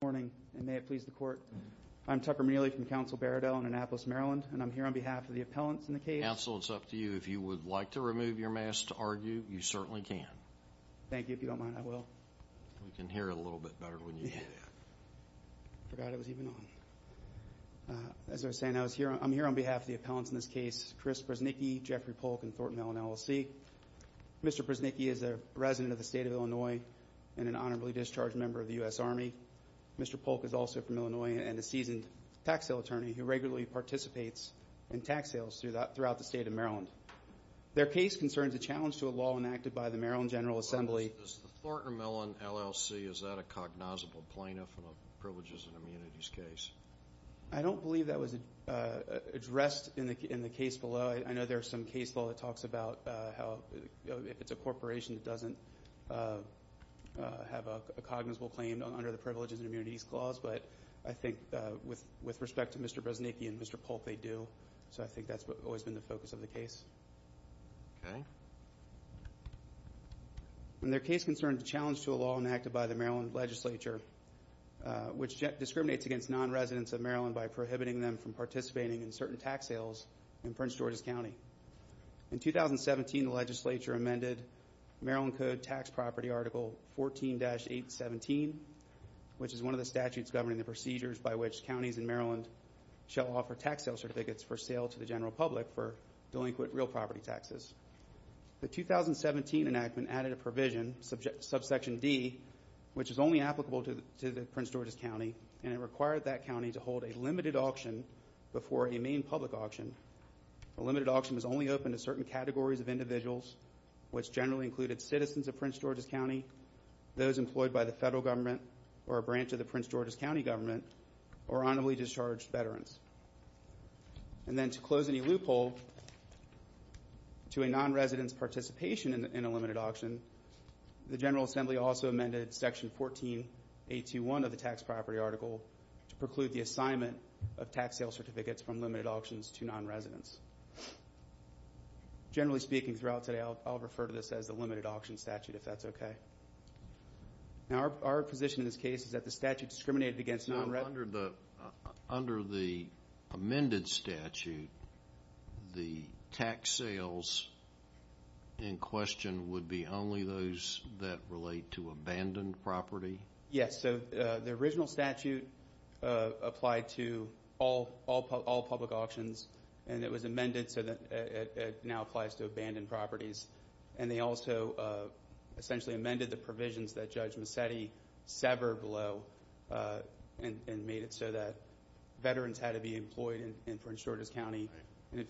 Good morning and may it please the court. I'm Tucker Mealy from Council Baradell in Annapolis, Maryland, and I'm here on behalf of the appellants in the case. Counsel, it's up to you. If you would like to remove your mask to argue, you certainly can. Thank you. If you don't mind, I will. We can hear it a little bit better when you do that. I forgot it was even on. As I was saying, I'm here on behalf of the appellants in this case, Chris Brusznicki, Jeffrey Polk, and Thornton Allen LLC. Mr. Brusznicki is a resident of the state of Illinois and an honorably discharged member of the U.S. Army. Mr. Polk is also from Illinois and a seasoned tax sale attorney who regularly participates in tax sales throughout the state of Maryland. Their case concerns a challenge to a law enacted by the Maryland General Assembly. Is the Thornton Allen LLC, is that a cognizable plaintiff in a privileges and immunities case? I don't believe that was addressed in the case below. I know there's some case law that talks about how if it's a corporation that doesn't have a cognizable claim under the privileges and immunities clause. But I think with respect to Mr. Brusznicki and Mr. Polk, they do. So I think that's always been the focus of the case. Okay. Their case concerns a challenge to a law enacted by the Maryland legislature which discriminates against non-residents of Maryland by prohibiting them from participating in certain tax sales in Prince George's County. In 2017, the legislature amended Maryland Code Tax Property Article 14-817, which is one of the statutes governing the procedures by which counties in Maryland shall offer tax sale certificates for sale to the general public for delinquent real property taxes. The 2017 enactment added a provision, Subsection D, which is only applicable to Prince George's County. And it required that county to hold a limited auction before a main public auction. A limited auction is only open to certain categories of individuals, which generally included citizens of Prince George's County, those employed by the federal government or a branch of the Prince George's County government, or honorably discharged veterans. And then to close any loophole to a non-resident's participation in a limited auction, the General Assembly also amended Section 14-821 of the Tax Property Article to preclude the assignment of tax sale certificates from limited auctions to non-residents. Generally speaking, throughout today, I'll refer to this as the limited auction statute, if that's okay. Now, our position in this case is that the statute discriminated against non-residents. Under the amended statute, the tax sales in question would be only those that relate to abandoned property? Yes. So, the original statute applied to all public auctions. And it was amended so that it now applies to abandoned properties. And they also essentially amended the provisions that Judge Mazzetti severed below and made it so that veterans had to be employed in Prince George's County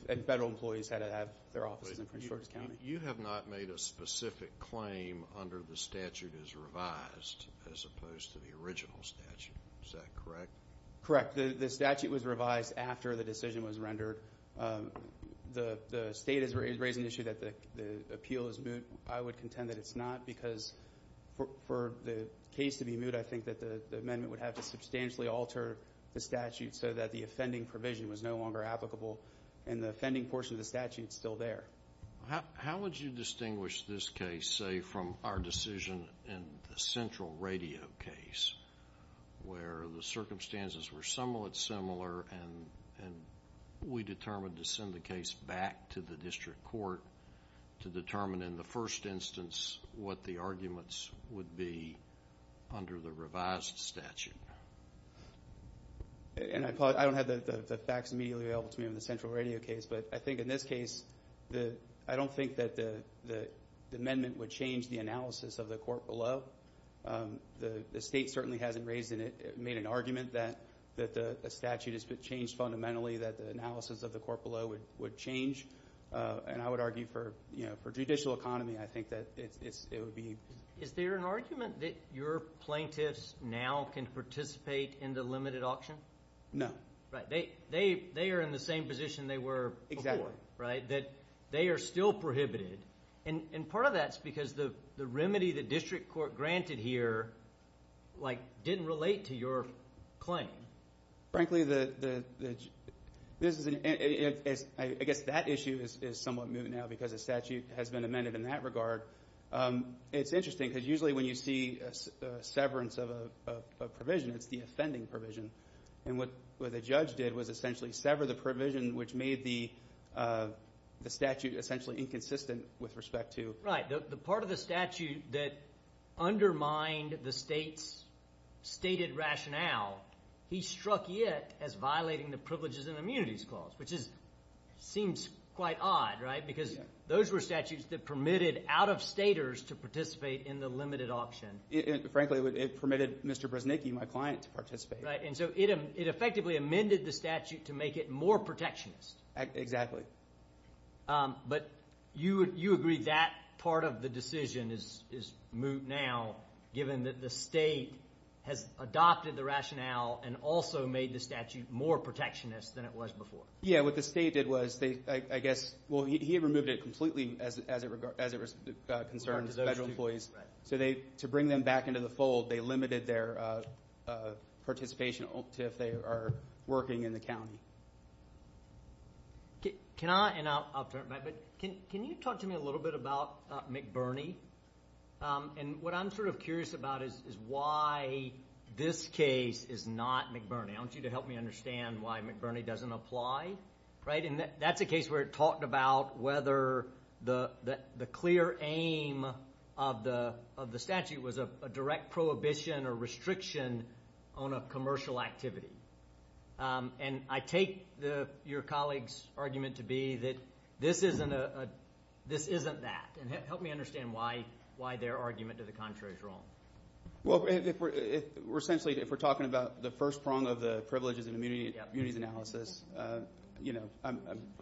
and federal employees had to have their offices in Prince George's County. You have not made a specific claim under the statute as revised, as opposed to the original statute. Is that correct? The State is raising the issue that the appeal is moot. I would contend that it's not because for the case to be moot, I think that the amendment would have to substantially alter the statute so that the offending provision was no longer applicable. And the offending portion of the statute is still there. How would you distinguish this case, say, from our decision in the Central Radio case, where the circumstances were somewhat similar and we determined to send the case back to the District Court to determine in the first instance what the arguments would be under the revised statute? And I don't have the facts immediately available to me on the Central Radio case, but I think in this case, I don't think that the amendment would change the analysis of the court below. The State certainly hasn't made an argument that the statute has changed fundamentally, that the analysis of the court below would change. And I would argue for judicial economy, I think that it would be... Is there an argument that your plaintiffs now can participate in the limited auction? No. They are in the same position they were before, right? Exactly. That they are still prohibited. And part of that is because the remedy the District Court granted here didn't relate to your claim. Frankly, I guess that issue is somewhat moot now because the statute has been amended in that regard. It's interesting because usually when you see severance of a provision, it's the offending provision. And what the judge did was essentially sever the provision, which made the statute essentially inconsistent with respect to... Right. The part of the statute that undermined the State's stated rationale, he struck it as violating the Privileges and Immunities Clause, which seems quite odd, right? Because those were statutes that permitted out-of-staters to participate in the limited auction. Frankly, it permitted Mr. Bresnicki, my client, to participate. And so it effectively amended the statute to make it more protectionist. Exactly. But you agree that part of the decision is moot now, given that the State has adopted the rationale and also made the statute more protectionist than it was before. Yeah, what the State did was, I guess, well, he had removed it completely as it concerned federal employees. So to bring them back into the fold, they limited their participation if they are working in the county. Can I, and I'll turn it back, but can you talk to me a little bit about McBurney? And what I'm sort of curious about is why this case is not McBurney. I want you to help me understand why McBurney doesn't apply, right? That's a case where it talked about whether the clear aim of the statute was a direct prohibition or restriction on a commercial activity. And I take your colleague's argument to be that this isn't that. And help me understand why their argument to the contrary is wrong. Well, essentially, if we're talking about the first prong of the privileges and immunities analysis, you know,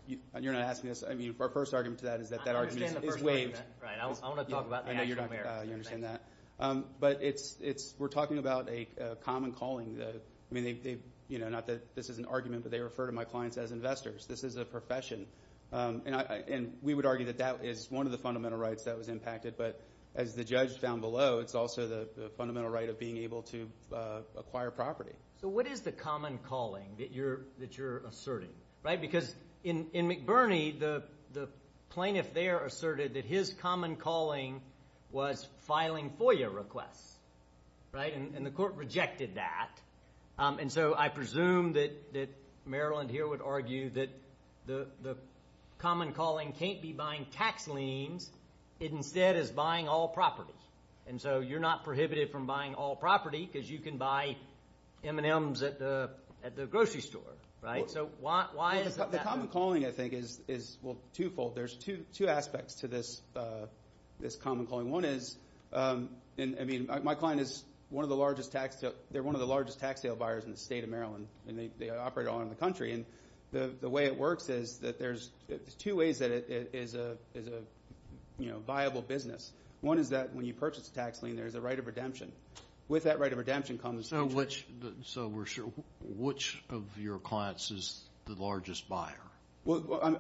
you're not asking us, I mean, our first argument to that is that that argument is waived. Right, I want to talk about the actual merits. You understand that. But it's, we're talking about a common calling. I mean, not that this is an argument, but they refer to my clients as investors. This is a profession. And we would argue that that is one of the fundamental rights that was impacted. But as the judge found below, it's also the fundamental right of being able to acquire property. So what is the common calling that you're asserting? Right, because in McBurney, the plaintiff there asserted that his common calling was filing FOIA requests. Right, and the court rejected that. And so I presume that Maryland here would argue that the common calling can't be buying tax liens. It instead is buying all property. And so you're not prohibited from buying all property because you can buy M&Ms at the grocery store. Right, so why is that? The common calling, I think, is, well, twofold. There's two aspects to this common calling. One is, I mean, my client is one of the largest tax, they're one of the largest tax sale buyers in the state of Maryland. And they operate all around the country. And the way it works is that there's two ways that it is a, you know, viable business. One is that when you purchase a tax lien, there's a right of redemption. With that right of redemption comes. So which, so we're sure, which of your clients is the largest buyer? Well,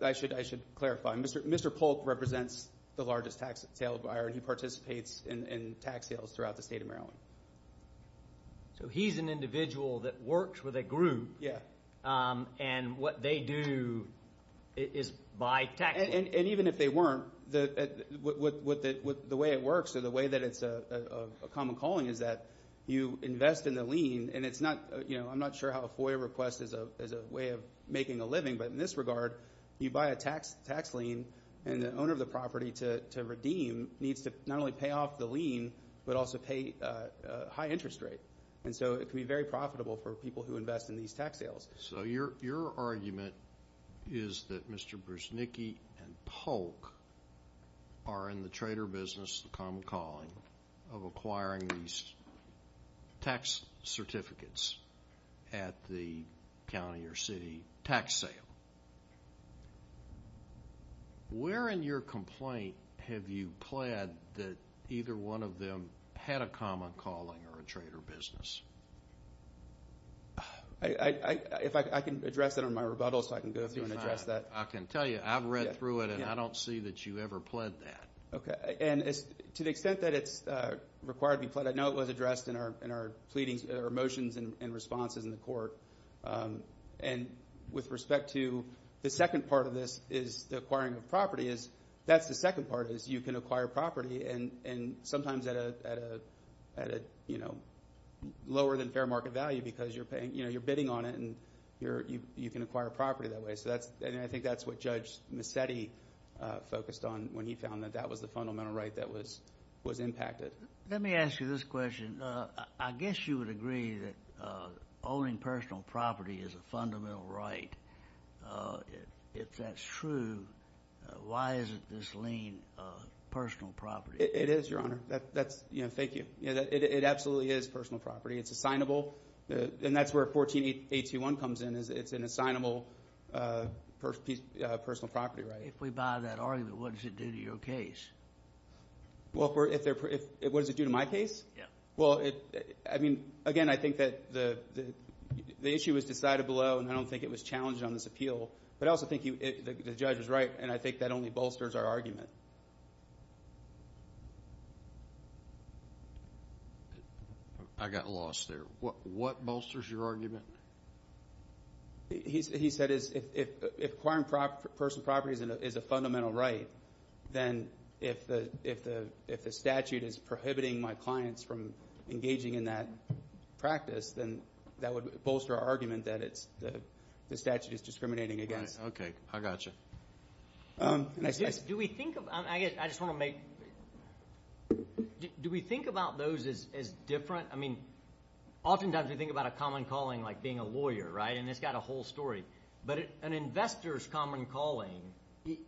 I should clarify. Mr. Polk represents the largest tax sale buyer, and he participates in tax sales throughout the state of Maryland. So he's an individual that works with a group. Yeah. And what they do is buy tax liens. And even if they weren't, the way it works or the way that it's a common calling is that you invest in the lien. And it's not, you know, I'm not sure how a FOIA request is a way of making a living. But in this regard, you buy a tax lien, and the owner of the property to redeem needs to not only pay off the lien, but also pay a high interest rate. And so it can be very profitable for people who invest in these tax sales. So your argument is that Mr. Brusnicki and Polk are in the trader business, the common calling, of acquiring these tax certificates at the county or city tax sale. Where in your complaint have you pled that either one of them had a common calling or a trader business? If I can address that in my rebuttal so I can go through and address that. I can tell you. I've read through it, and I don't see that you ever pled that. Okay. And to the extent that it's required to be pled, I know it was addressed in our pleadings or motions and responses in the court. And with respect to the second part of this is the acquiring of property, that's the second part is you can acquire property. And sometimes at a lower than fair market value because you're bidding on it, and you can acquire property that way. And I think that's what Judge Massetti focused on when he found that that was the fundamental right that was impacted. Let me ask you this question. I guess you would agree that owning personal property is a fundamental right. If that's true, why isn't this lien personal property? It is, Your Honor. Thank you. It absolutely is personal property. It's assignable. And that's where 14821 comes in is it's an assignable personal property right. If we buy that argument, what does it do to your case? What does it do to my case? Yeah. Well, I mean, again, I think that the issue was decided below, and I don't think it was challenged on this appeal. But I also think the judge was right, and I think that only bolsters our argument. I got lost there. What bolsters your argument? He said if acquiring personal property is a fundamental right, then if the statute is prohibiting my clients from engaging in that practice, then that would bolster our argument that the statute is discriminating against. Right. Okay. I got you. Do we think of – I guess I just want to make – do we think about those as different? I mean, oftentimes we think about a common calling like being a lawyer, right, and it's got a whole story. But an investor's common calling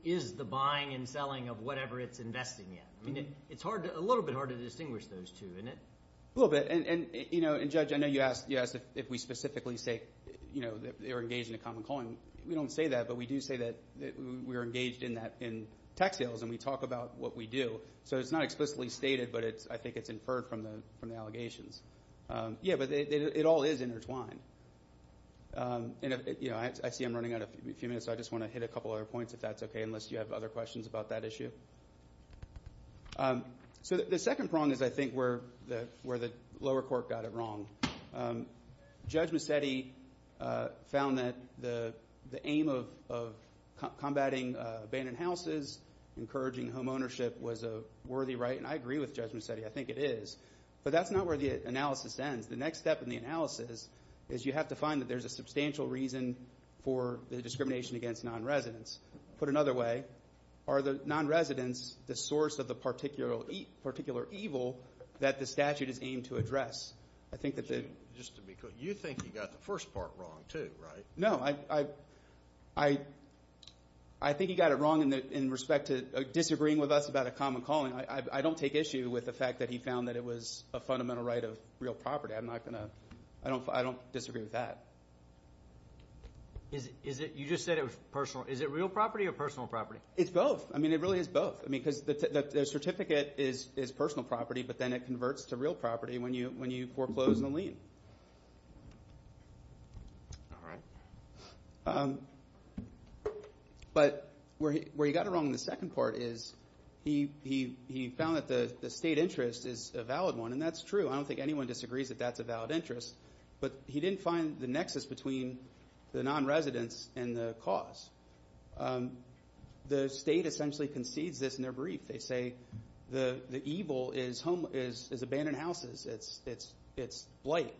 is the buying and selling of whatever it's investing in. I mean, it's a little bit hard to distinguish those two, isn't it? A little bit. And, you know, Judge, I know you asked if we specifically say, you know, they're engaged in a common calling. We don't say that, but we do say that we're engaged in that in tax sales, and we talk about what we do. So it's not explicitly stated, but I think it's inferred from the allegations. Yeah, but it all is intertwined. And, you know, I see I'm running out of a few minutes, so I just want to hit a couple other points if that's okay, unless you have other questions about that issue. So the second prong is, I think, where the lower court got it wrong. Judge Macedi found that the aim of combating abandoned houses, encouraging home ownership, was a worthy right. And I agree with Judge Macedi. I think it is. But that's not where the analysis ends. The next step in the analysis is you have to find that there's a substantial reason for the discrimination against nonresidents. Put another way, are the nonresidents the source of the particular evil that the statute is aimed to address? Just to be clear, you think he got the first part wrong, too, right? No, I think he got it wrong in respect to disagreeing with us about a common calling. I don't take issue with the fact that he found that it was a fundamental right of real property. I'm not going to – I don't disagree with that. You just said it was personal. Is it real property or personal property? It's both. I mean, it really is both. I mean, because the certificate is personal property, but then it converts to real property when you foreclose the lien. But where he got it wrong in the second part is he found that the state interest is a valid one, and that's true. I don't think anyone disagrees that that's a valid interest. But he didn't find the nexus between the nonresidents and the cause. The state essentially concedes this in their brief. They say the evil is abandoned houses. It's blight.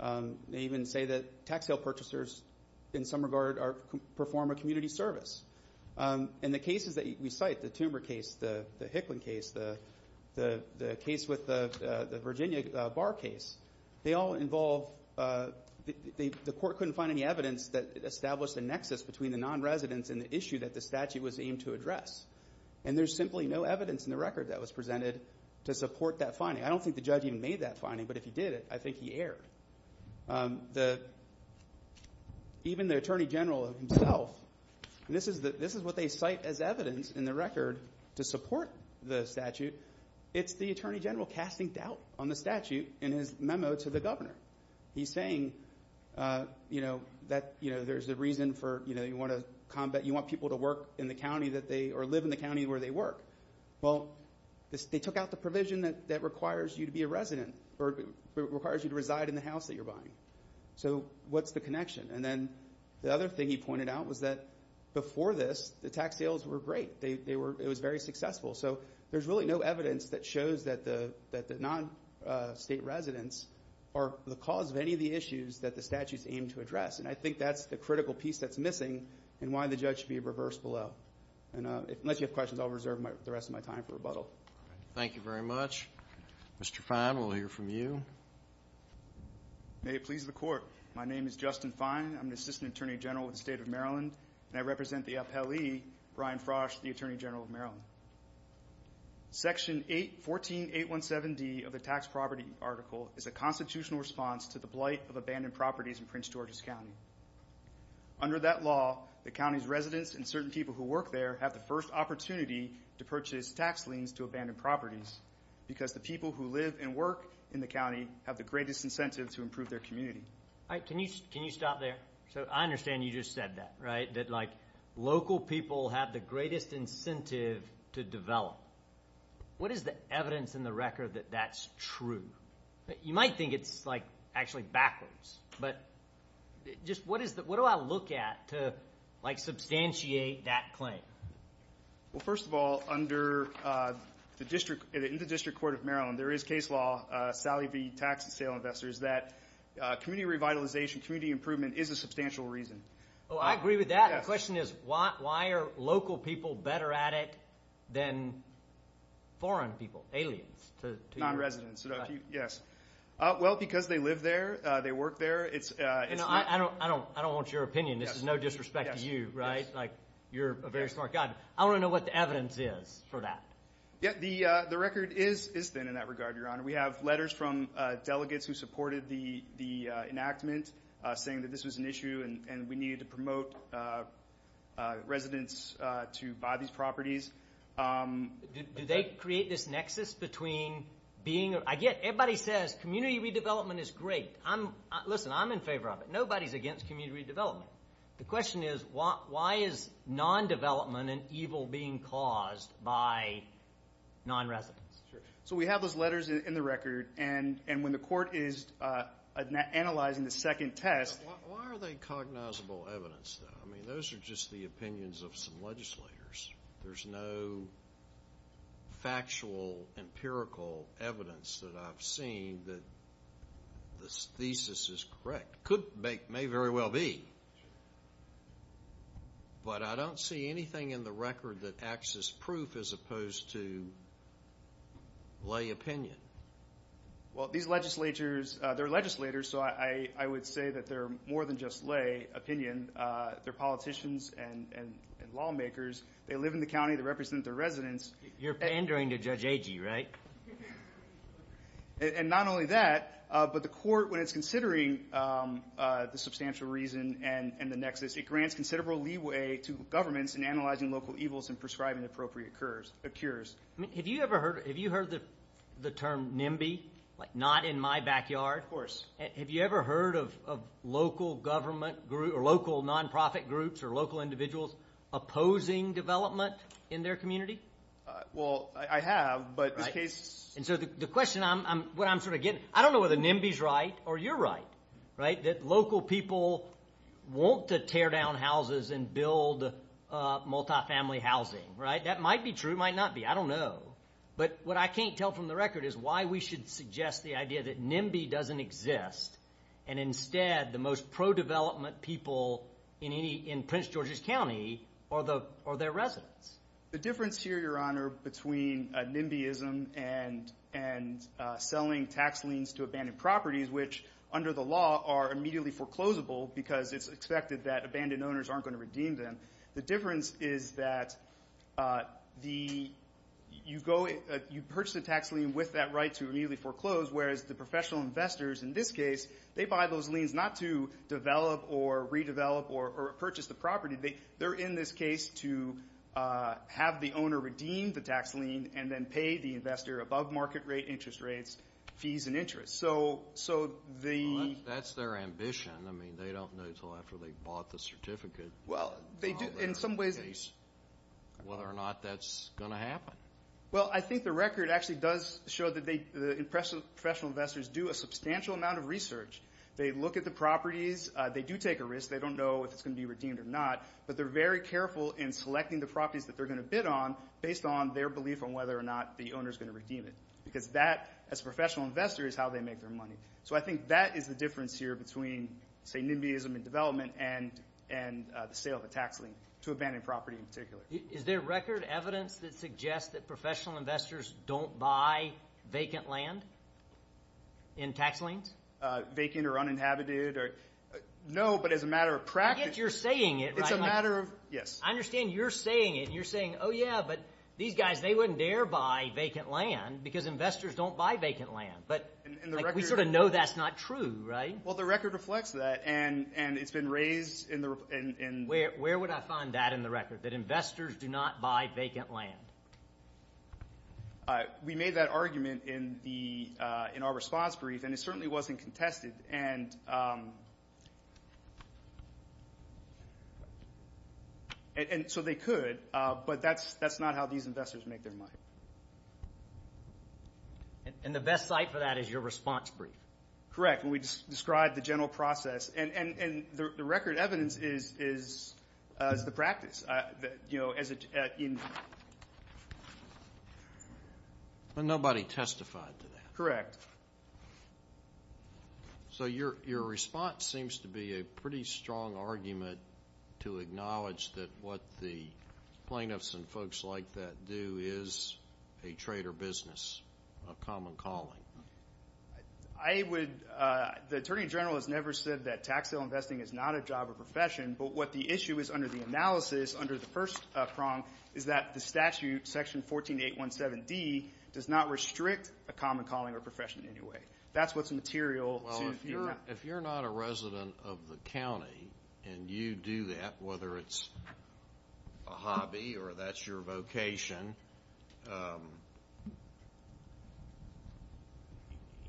They even say that tax sale purchasers, in some regard, perform a community service. And the cases that we cite, the Toomer case, the Hickman case, the case with the Virginia bar case, they all involve –– nonresidents in the issue that the statute was aimed to address. And there's simply no evidence in the record that was presented to support that finding. I don't think the judge even made that finding, but if he did, I think he erred. Even the Attorney General himself – this is what they cite as evidence in the record to support the statute. It's the Attorney General casting doubt on the statute in his memo to the governor. He's saying that there's a reason for – you want people to work in the county that they – or live in the county where they work. Well, they took out the provision that requires you to be a resident or requires you to reside in the house that you're buying. So what's the connection? And then the other thing he pointed out was that before this, the tax sales were great. It was very successful. So there's really no evidence that shows that the non-state residents are the cause of any of the issues that the statute's aimed to address. And I think that's the critical piece that's missing and why the judge should be reversed below. And unless you have questions, I'll reserve the rest of my time for rebuttal. Thank you very much. Mr. Fine, we'll hear from you. May it please the Court. My name is Justin Fine. I'm an Assistant Attorney General with the State of Maryland. And I represent the appellee, Brian Frosch, the Attorney General of Maryland. Section 14817D of the tax property article is a constitutional response to the blight of abandoned properties in Prince George's County. Under that law, the county's residents and certain people who work there have the first opportunity to purchase tax liens to abandoned properties because the people who live and work in the county have the greatest incentive to improve their community. Can you stop there? So I understand you just said that, right? That, like, local people have the greatest incentive to develop. What is the evidence in the record that that's true? You might think it's, like, actually backwards. But just what is the – what do I look at to, like, substantiate that claim? Well, first of all, under the district – in the District Court of Maryland, there is case law, Sally v. Tax and Sale Investors, that community revitalization, community improvement is a substantial reason. Oh, I agree with that. The question is, why are local people better at it than foreign people, aliens? Non-residents, yes. Well, because they live there. They work there. I don't want your opinion. This is no disrespect to you, right? Like, you're a very smart guy. I want to know what the evidence is for that. The record is thin in that regard, Your Honor. We have letters from delegates who supported the enactment saying that this was an issue and we needed to promote residents to buy these properties. Do they create this nexus between being – I get – everybody says community redevelopment is great. I'm – listen, I'm in favor of it. Nobody's against community redevelopment. The question is, why is non-development and evil being caused by non-residents? So we have those letters in the record, and when the court is analyzing the second test – Why are they cognizable evidence, though? I mean, those are just the opinions of some legislators. There's no factual, empirical evidence that I've seen that this thesis is correct. Could make – may very well be. But I don't see anything in the record that acts as proof as opposed to lay opinion. Well, these legislatures – they're legislators, so I would say that they're more than just lay opinion. They're politicians and lawmakers. They live in the county. They represent their residents. You're pandering to Judge Agee, right? And not only that, but the court, when it's considering the substantial reason and the nexus, it grants considerable leeway to governments in analyzing local evils and prescribing appropriate cures. Have you ever heard – have you heard the term NIMBY? Like, not in my backyard? Of course. Have you ever heard of local government – or local nonprofit groups or local individuals opposing development in their community? Well, I have, but this case – And so the question I'm – what I'm sort of getting – I don't know whether NIMBY's right or you're right, right, that local people want to tear down houses and build multifamily housing, right? That might be true. It might not be. I don't know. But what I can't tell from the record is why we should suggest the idea that NIMBY doesn't exist and instead the most pro-development people in Prince George's County are their residents. The difference here, Your Honor, between NIMBYism and selling tax liens to abandoned properties, which under the law are immediately foreclosable because it's expected that abandoned owners aren't going to redeem them, the difference is that the – you go – you purchase a tax lien with that right to immediately foreclose, whereas the professional investors in this case, they buy those liens not to develop or redevelop or purchase the property. They're in this case to have the owner redeem the tax lien and then pay the investor above market rate, interest rates, fees and interest. So the – Well, that's their ambition. I mean, they don't know until after they've bought the certificate – Well, they do – in some ways –– whether or not that's going to happen. Well, I think the record actually does show that they – the professional investors do a substantial amount of research. They look at the properties. They do take a risk. They don't know if it's going to be redeemed or not. But they're very careful in selecting the properties that they're going to bid on based on their belief on whether or not the owner's going to redeem it because that, as a professional investor, is how they make their money. So I think that is the difference here between, say, NIMBYism and development and the sale of a tax lien to abandoned property in particular. Is there record evidence that suggests that professional investors don't buy vacant land in tax liens? Vacant or uninhabited or – no, but as a matter of practice – I understand you're saying it. You're saying, oh, yeah, but these guys, they wouldn't dare buy vacant land because investors don't buy vacant land. But we sort of know that's not true, right? Well, the record reflects that, and it's been raised in the – Where would I find that in the record, that investors do not buy vacant land? We made that argument in our response brief, and it certainly wasn't contested. And so they could, but that's not how these investors make their money. And the best site for that is your response brief? Correct, and we described the general process. And the record evidence is the practice. But nobody testified to that. Correct. So your response seems to be a pretty strong argument to acknowledge that what the plaintiffs and folks like that do is a trade or business, a common calling. I would – the Attorney General has never said that tax sale investing is not a job or profession. But what the issue is under the analysis, under the first prong, is that the statute, Section 14817D, does not restrict a common calling or profession in any way. That's what's material to – Well, if you're not a resident of the county and you do that, whether it's a hobby or that's your vocation,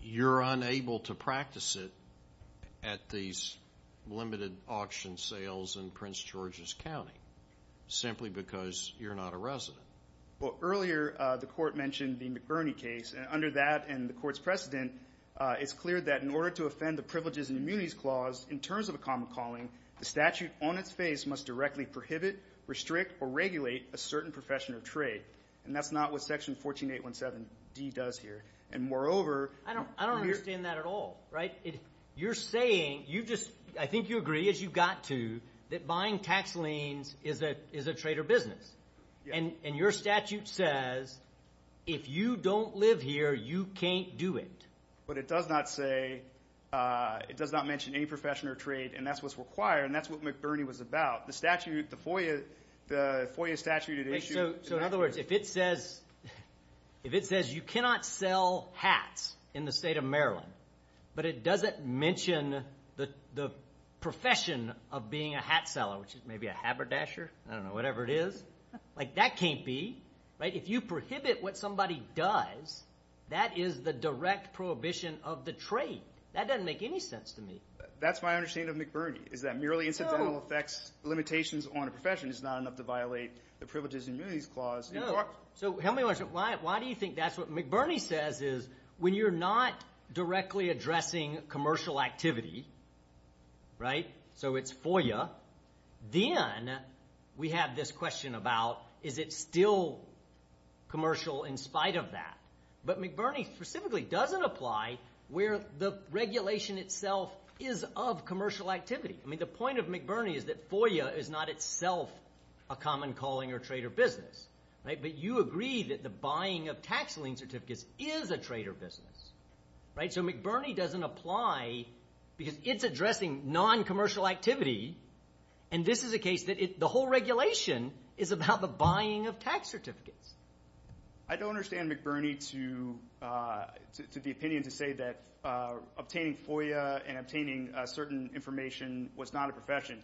you're unable to practice it at these limited auction sales in Prince George's County simply because you're not a resident. Well, earlier the court mentioned the McBurney case. Under that and the court's precedent, it's clear that in order to offend the privileges and immunities clause, in terms of a common calling, the statute on its face must directly prohibit, restrict, or regulate a certain profession or trade. And that's not what Section 14817D does here. And moreover – I don't understand that at all, right? You're saying – you just – I think you agree, as you've got to, that buying tax liens is a trade or business. And your statute says, if you don't live here, you can't do it. But it does not say – it does not mention any profession or trade, and that's what's required, and that's what McBurney was about. The statute – the FOIA statute – So in other words, if it says – if it says you cannot sell hats in the state of Maryland, but it doesn't mention the profession of being a hat seller, which is maybe a haberdasher, I don't know, whatever it is. Like, that can't be. Right? If you prohibit what somebody does, that is the direct prohibition of the trade. That doesn't make any sense to me. That's my understanding of McBurney, is that merely incidental effects limitations on a profession is not enough to violate the privileges and immunities clause. No. So help me understand. Why do you think that's what – McBurney says is, when you're not directly addressing commercial activity, right? So it's FOIA. Then we have this question about, is it still commercial in spite of that? But McBurney specifically doesn't apply where the regulation itself is of commercial activity. I mean, the point of McBurney is that FOIA is not itself a common calling or trade or business. But you agree that the buying of tax lien certificates is a trade or business. Right? So McBurney doesn't apply because it's addressing non-commercial activity, and this is a case that the whole regulation is about the buying of tax certificates. I don't understand McBurney to the opinion to say that obtaining FOIA and obtaining certain information was not a profession.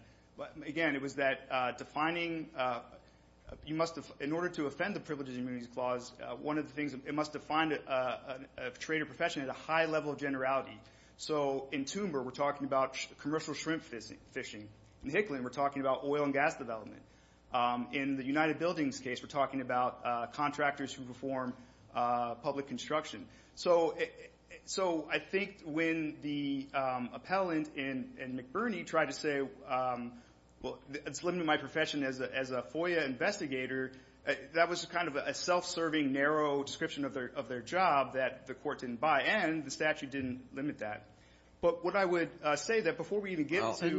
Again, it was that defining – you must – in order to offend the privileges and immunities clause, one of the things – it must define a trade or profession at a high level of generality. So in Toomber, we're talking about commercial shrimp fishing. In Hickman, we're talking about oil and gas development. In the United Buildings case, we're talking about contractors who perform public construction. So I think when the appellant in McBurney tried to say, well, it's limiting my profession as a FOIA investigator, that was kind of a self-serving, narrow description of their job that the court didn't buy. And the statute didn't limit that. But what I would say that before we even get to – Anybody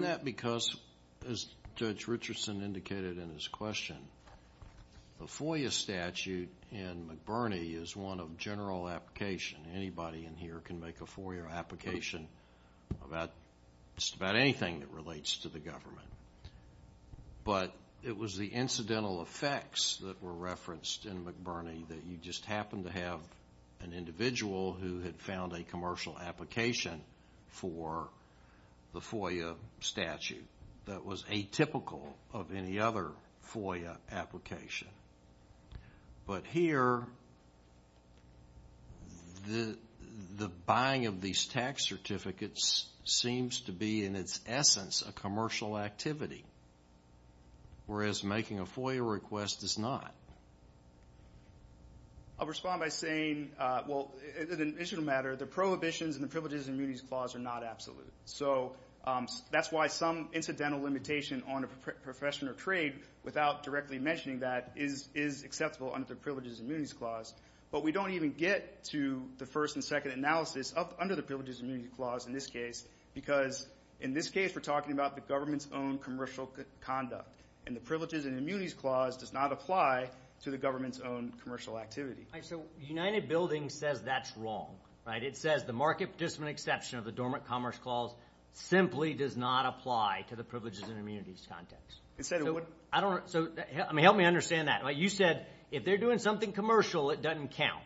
in here can make a FOIA application about just about anything that relates to the government. But it was the incidental effects that were referenced in McBurney that you just happened to have an individual who had found a commercial application for the FOIA statute that was atypical of any other FOIA application. But here, the buying of these tax certificates seems to be, in its essence, a commercial activity, whereas making a FOIA request is not. I'll respond by saying, well, in an initial matter, the prohibitions and the privileges and immunities clause are not absolute. So that's why some incidental limitation on a profession or trade, without directly mentioning that, is acceptable under the privileges and immunities clause. But we don't even get to the first and second analysis under the privileges and immunities clause in this case, because in this case, we're talking about the government's own commercial conduct. And the privileges and immunities clause does not apply to the government's own commercial activity. So United Buildings says that's wrong, right? It says the market participant exception of the Dormant Commerce Clause simply does not apply to the privileges and immunities context. So help me understand that. You said if they're doing something commercial, it doesn't count,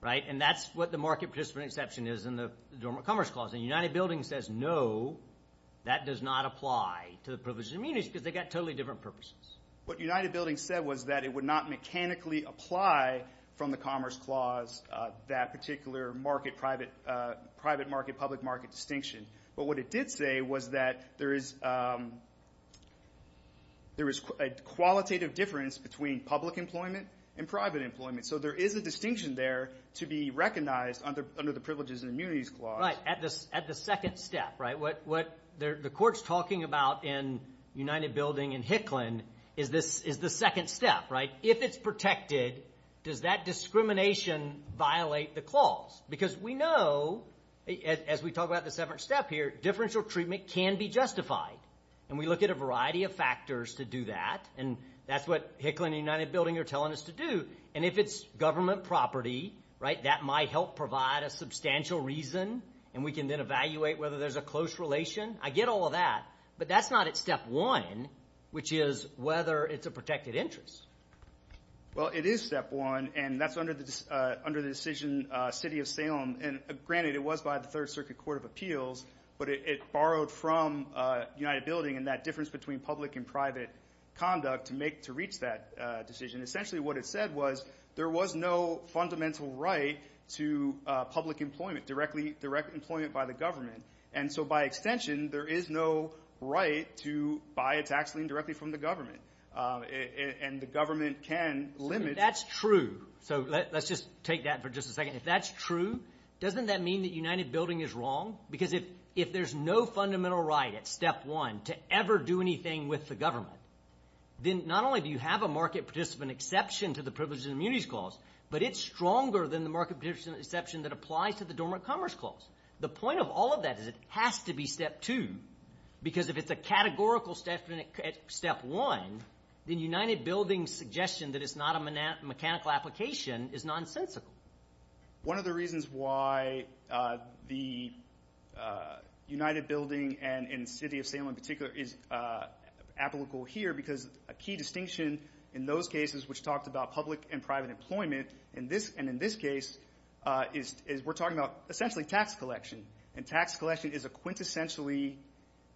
right? And that's what the market participant exception is in the Dormant Commerce Clause. And United Buildings says no, that does not apply to the privileges and immunities, because they've got totally different purposes. What United Buildings said was that it would not mechanically apply from the Commerce Clause that particular private market, public market distinction. But what it did say was that there is a qualitative difference between public employment and private employment. So there is a distinction there to be recognized under the privileges and immunities clause. Right, at the second step, right? What the court's talking about in United Building and Hicklin is the second step, right? If it's protected, does that discrimination violate the clause? Because we know, as we talk about the second step here, differential treatment can be justified. And we look at a variety of factors to do that. And that's what Hicklin and United Building are telling us to do. And if it's government property, right, that might help provide a substantial reason. And we can then evaluate whether there's a close relation. I get all of that. But that's not at step one, which is whether it's a protected interest. Well, it is step one. And that's under the decision, City of Salem. And granted, it was by the Third Circuit Court of Appeals. But it borrowed from United Building and that difference between public and private conduct to reach that decision. And essentially what it said was there was no fundamental right to public employment, direct employment by the government. And so by extension, there is no right to buy a tax lien directly from the government. And the government can limit. That's true. So let's just take that for just a second. If that's true, doesn't that mean that United Building is wrong? Because if there's no fundamental right at step one to ever do anything with the government, then not only do you have a market participant exception to the Privileges and Immunities Clause, but it's stronger than the market participant exception that applies to the Dormant Commerce Clause. The point of all of that is it has to be step two. Because if it's a categorical step at step one, then United Building's suggestion that it's not a mechanical application is nonsensical. One of the reasons why the United Building and the city of Salem in particular is applicable here, because a key distinction in those cases which talked about public and private employment, and in this case, is we're talking about essentially tax collection. And tax collection is a quintessentially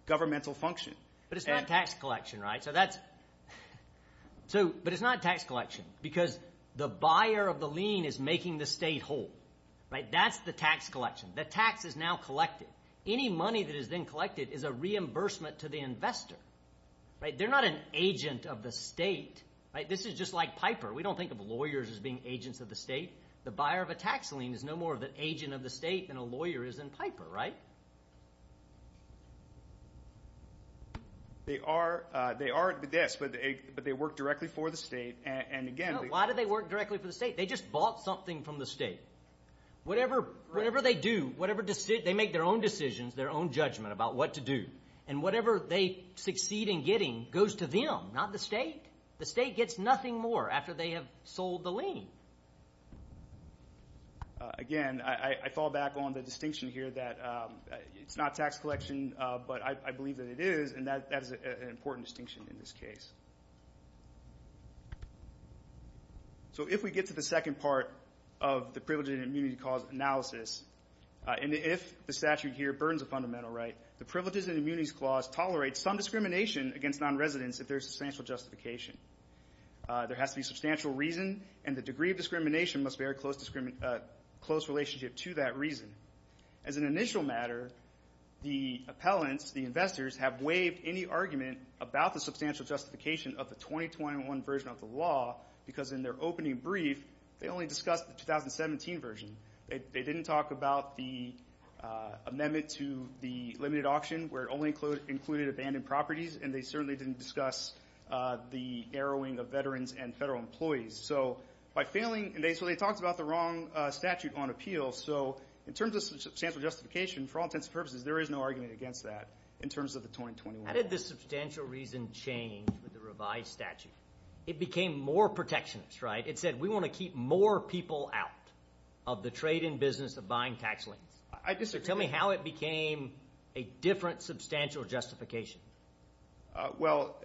governmental function. But it's not tax collection, right? That's the tax collection. The tax is now collected. Any money that is then collected is a reimbursement to the investor, right? They're not an agent of the state, right? This is just like Piper. We don't think of lawyers as being agents of the state. The buyer of a tax lien is no more of an agent of the state than a lawyer is in Piper, right? They are, yes, but they work directly for the state, and again— Why do they work directly for the state? They just bought something from the state. Whatever they do, they make their own decisions, their own judgment about what to do. And whatever they succeed in getting goes to them, not the state. The state gets nothing more after they have sold the lien. Again, I fall back on the distinction here that it's not tax collection, but I believe that it is, and that is an important distinction in this case. So if we get to the second part of the privilege and immunity clause analysis, and if the statute here burns a fundamental right, the privileges and immunities clause tolerates some discrimination against nonresidents if there is substantial justification. There has to be substantial reason, and the degree of discrimination must bear a close relationship to that reason. As an initial matter, the appellants, the investors, have waived any argument about the substantial justification of the 2021 version of the law because in their opening brief, they only discussed the 2017 version. They didn't talk about the amendment to the limited auction where it only included abandoned properties, and they certainly didn't discuss the arrowing of veterans and federal employees. So by failing—so they talked about the wrong statute on appeal. So in terms of substantial justification, for all intents and purposes, there is no argument against that in terms of the 2021 version. How did the substantial reason change with the revised statute? It became more protectionist, right? It said, we want to keep more people out of the trade and business of buying tax liens. So tell me how it became a different substantial justification. Well,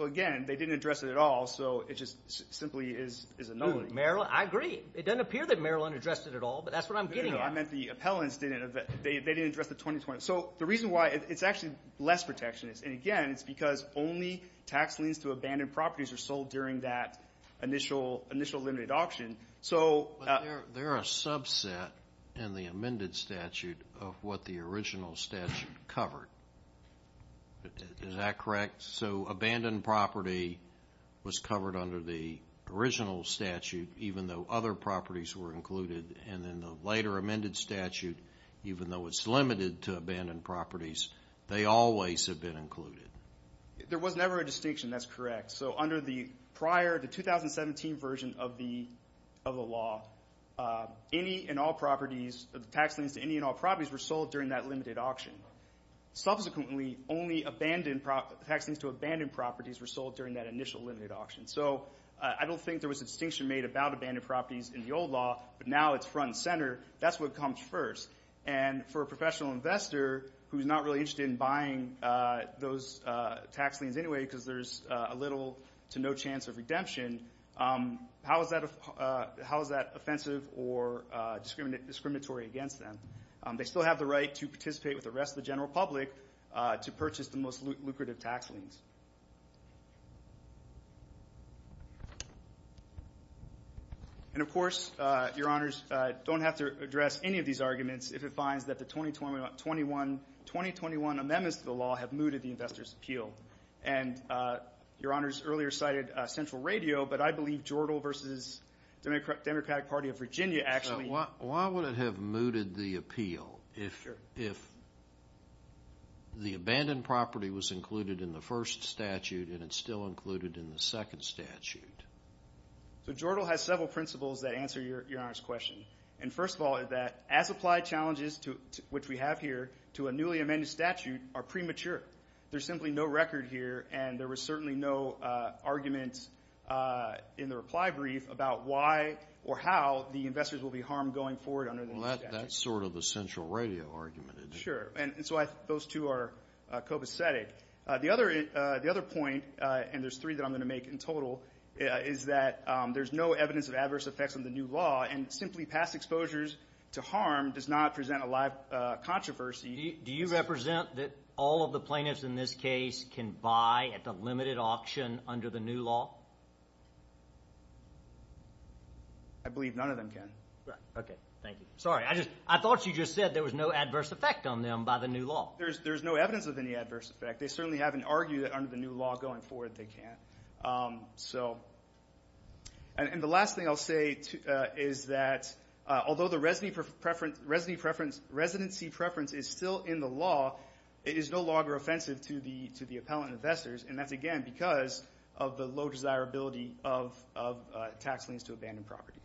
again, they didn't address it at all, so it just simply is a no. I agree. It doesn't appear that Maryland addressed it at all, but that's what I'm getting at. No, no, no. I meant the appellants didn't address the 2020— So the reason why—it's actually less protectionist. And again, it's because only tax liens to abandoned properties are sold during that initial limited auction. But there are a subset in the amended statute of what the original statute covered. Is that correct? So abandoned property was covered under the original statute, even though other properties were included. And in the later amended statute, even though it's limited to abandoned properties, they always have been included. There was never a distinction. That's correct. So under the prior—the 2017 version of the law, any and all properties—tax liens to any and all properties were sold during that limited auction. Subsequently, only tax liens to abandoned properties were sold during that initial limited auction. So I don't think there was a distinction made about abandoned properties in the old law, but now it's front and center. That's what comes first. And for a professional investor who's not really interested in buying those tax liens anyway, because there's a little to no chance of redemption, how is that offensive or discriminatory against them? They still have the right to participate with the rest of the general public to purchase the most lucrative tax liens. And, of course, Your Honors, don't have to address any of these arguments if it finds that the 2021 amendments to the law have mooted the investor's appeal. And Your Honors earlier cited Central Radio, but I believe Jordan versus the Democratic Party of Virginia actually— Why would it have mooted the appeal? If the abandoned property was included in the first statute, and it's still included in the second statute? So Jordan has several principles that answer Your Honors' question. And first of all, that as applied challenges, which we have here, to a newly amended statute are premature. There's simply no record here, and there was certainly no argument in the reply brief about why or how the investors will be harmed going forward under the new statute. Well, that's sort of the Central Radio argument, isn't it? Sure. And so those two are copacetic. The other point, and there's three that I'm going to make in total, is that there's no evidence of adverse effects on the new law, and simply pass exposures to harm does not present a live controversy. Do you represent that all of the plaintiffs in this case can buy at the limited auction under the new law? I believe none of them can. Okay. Thank you. Sorry. I thought you just said there was no adverse effect on them by the new law. There's no evidence of any adverse effect. They certainly haven't argued that under the new law going forward they can't. And the last thing I'll say is that although the residency preference is still in the law, it is no longer offensive to the appellant investors, and that's, again, because of the low desirability of tax liens to abandoned properties.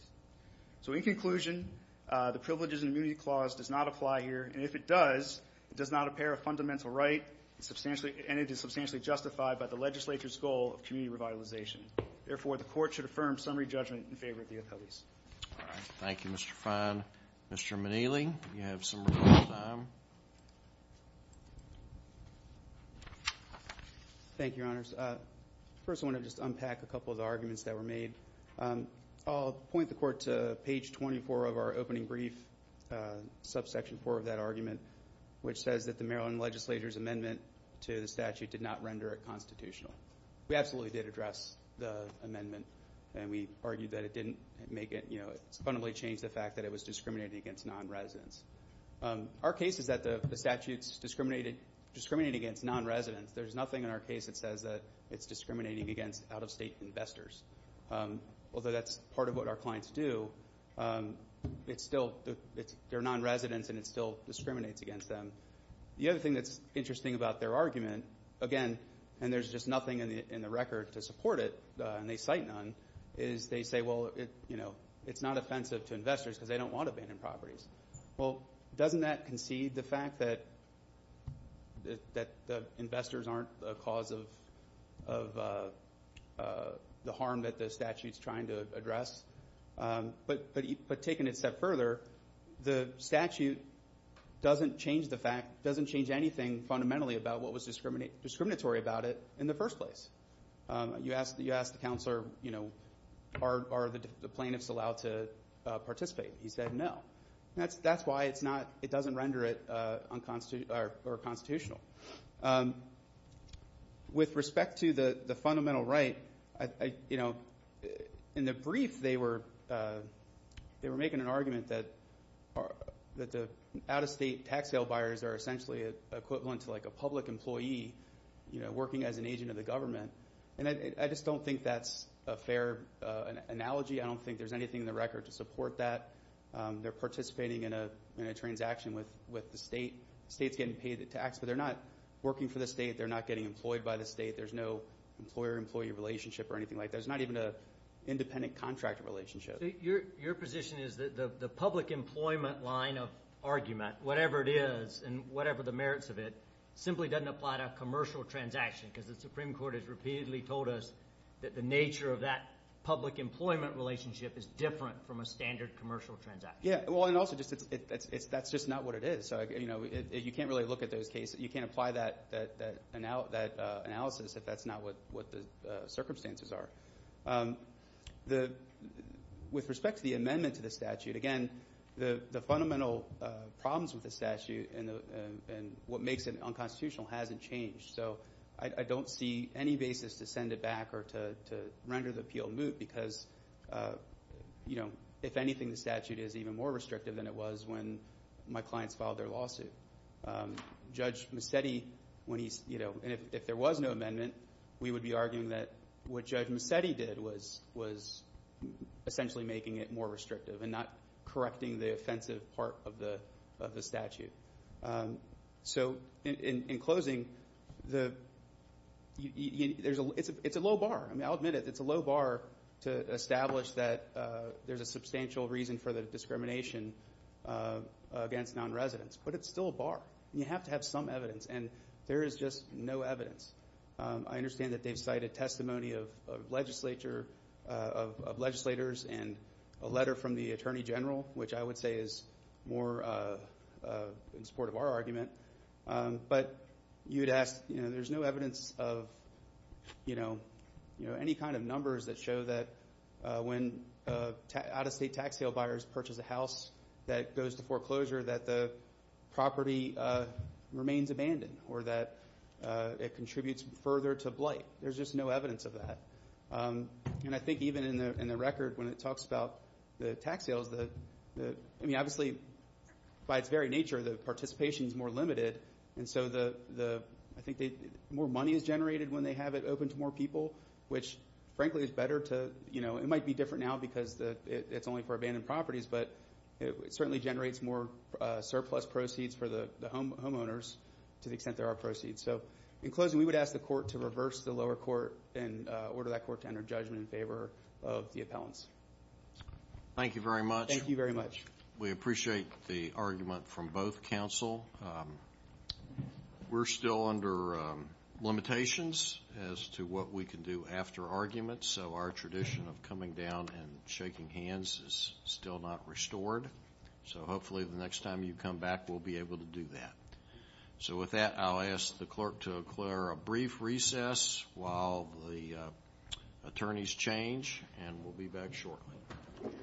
So in conclusion, the Privileges and Immunity Clause does not apply here, and if it does, it does not impair a fundamental right, and it is substantially justified by the legislature's goal of community revitalization. Therefore, the Court should affirm summary judgment in favor of the appellees. All right. Thank you, Mr. Fein. Mr. Minnelli, you have some remaining time. Thank you, Your Honors. First, I want to just unpack a couple of the arguments that were made. I'll point the Court to page 24 of our opening brief, subsection 4 of that argument, which says that the Maryland legislature's amendment to the statute did not render it constitutional. We absolutely did address the amendment, and we argued that it didn't make it, you know, it fundamentally changed the fact that it was discriminating against nonresidents. Our case is that the statute's discriminating against nonresidents. There's nothing in our case that says that it's discriminating against out-of-state investors. Although that's part of what our clients do. It's still, they're nonresidents, and it still discriminates against them. The other thing that's interesting about their argument, again, and there's just nothing in the record to support it, and they cite none, is they say, well, you know, it's not offensive to investors because they don't want abandoned properties. Well, doesn't that concede the fact that investors aren't a cause of the harm that the statute's trying to address? But taking it a step further, the statute doesn't change the fact, doesn't change anything fundamentally about what was discriminatory about it in the first place. You ask the counselor, you know, are the plaintiffs allowed to participate? He said no. That's why it's not, it doesn't render it unconstitutional or constitutional. With respect to the fundamental right, you know, in the brief they were making an argument that the out-of-state tax sale buyers are essentially equivalent to like a public employee, you know, working as an agent of the government. And I just don't think that's a fair analogy. I don't think there's anything in the record to support that. They're participating in a transaction with the state. The state's getting paid the tax, but they're not working for the state. They're not getting employed by the state. There's no employer-employee relationship or anything like that. There's not even an independent contractor relationship. Your position is that the public employment line of argument, whatever it is and whatever the merits of it, simply doesn't apply to a commercial transaction because the Supreme Court has repeatedly told us that the nature of that public employment relationship is different from a standard commercial transaction. Yeah. Well, and also that's just not what it is. So, you know, you can't really look at those cases. You can't apply that analysis if that's not what the circumstances are. With respect to the amendment to the statute, again, the fundamental problems with the statute and what makes it unconstitutional hasn't changed. So I don't see any basis to send it back or to render the appeal moot because, you know, if anything, the statute is even more restrictive than it was when my clients filed their lawsuit. Judge Musetti, when he's, you know, and if there was no amendment, we would be arguing that what Judge Musetti did was essentially making it more restrictive and not correcting the offensive part of the statute. So in closing, it's a low bar. I mean, I'll admit it. It's a low bar to establish that there's a substantial reason for the discrimination against nonresidents. But it's still a bar. You have to have some evidence, and there is just no evidence. I understand that they've cited testimony of legislature, of legislators, and a letter from the Attorney General, which I would say is more in support of our argument. But you'd ask, you know, there's no evidence of, you know, any kind of numbers that show that when out-of-state tax sale buyers purchase a house that goes to foreclosure, that the property remains abandoned or that it contributes further to blight. There's just no evidence of that. And I think even in the record, when it talks about the tax sales, I mean, obviously, by its very nature, the participation is more limited. And so I think more money is generated when they have it open to more people, which, frankly, is better to, you know, it might be different now because it's only for abandoned properties. But it certainly generates more surplus proceeds for the homeowners to the extent there are proceeds. So in closing, we would ask the court to reverse the lower court and order that court to enter judgment in favor of the appellants. Thank you very much. Thank you very much. We appreciate the argument from both counsel. We're still under limitations as to what we can do after arguments. So our tradition of coming down and shaking hands is still not restored. So hopefully the next time you come back, we'll be able to do that. So with that, I'll ask the clerk to declare a brief recess while the attorneys change. And we'll be back shortly.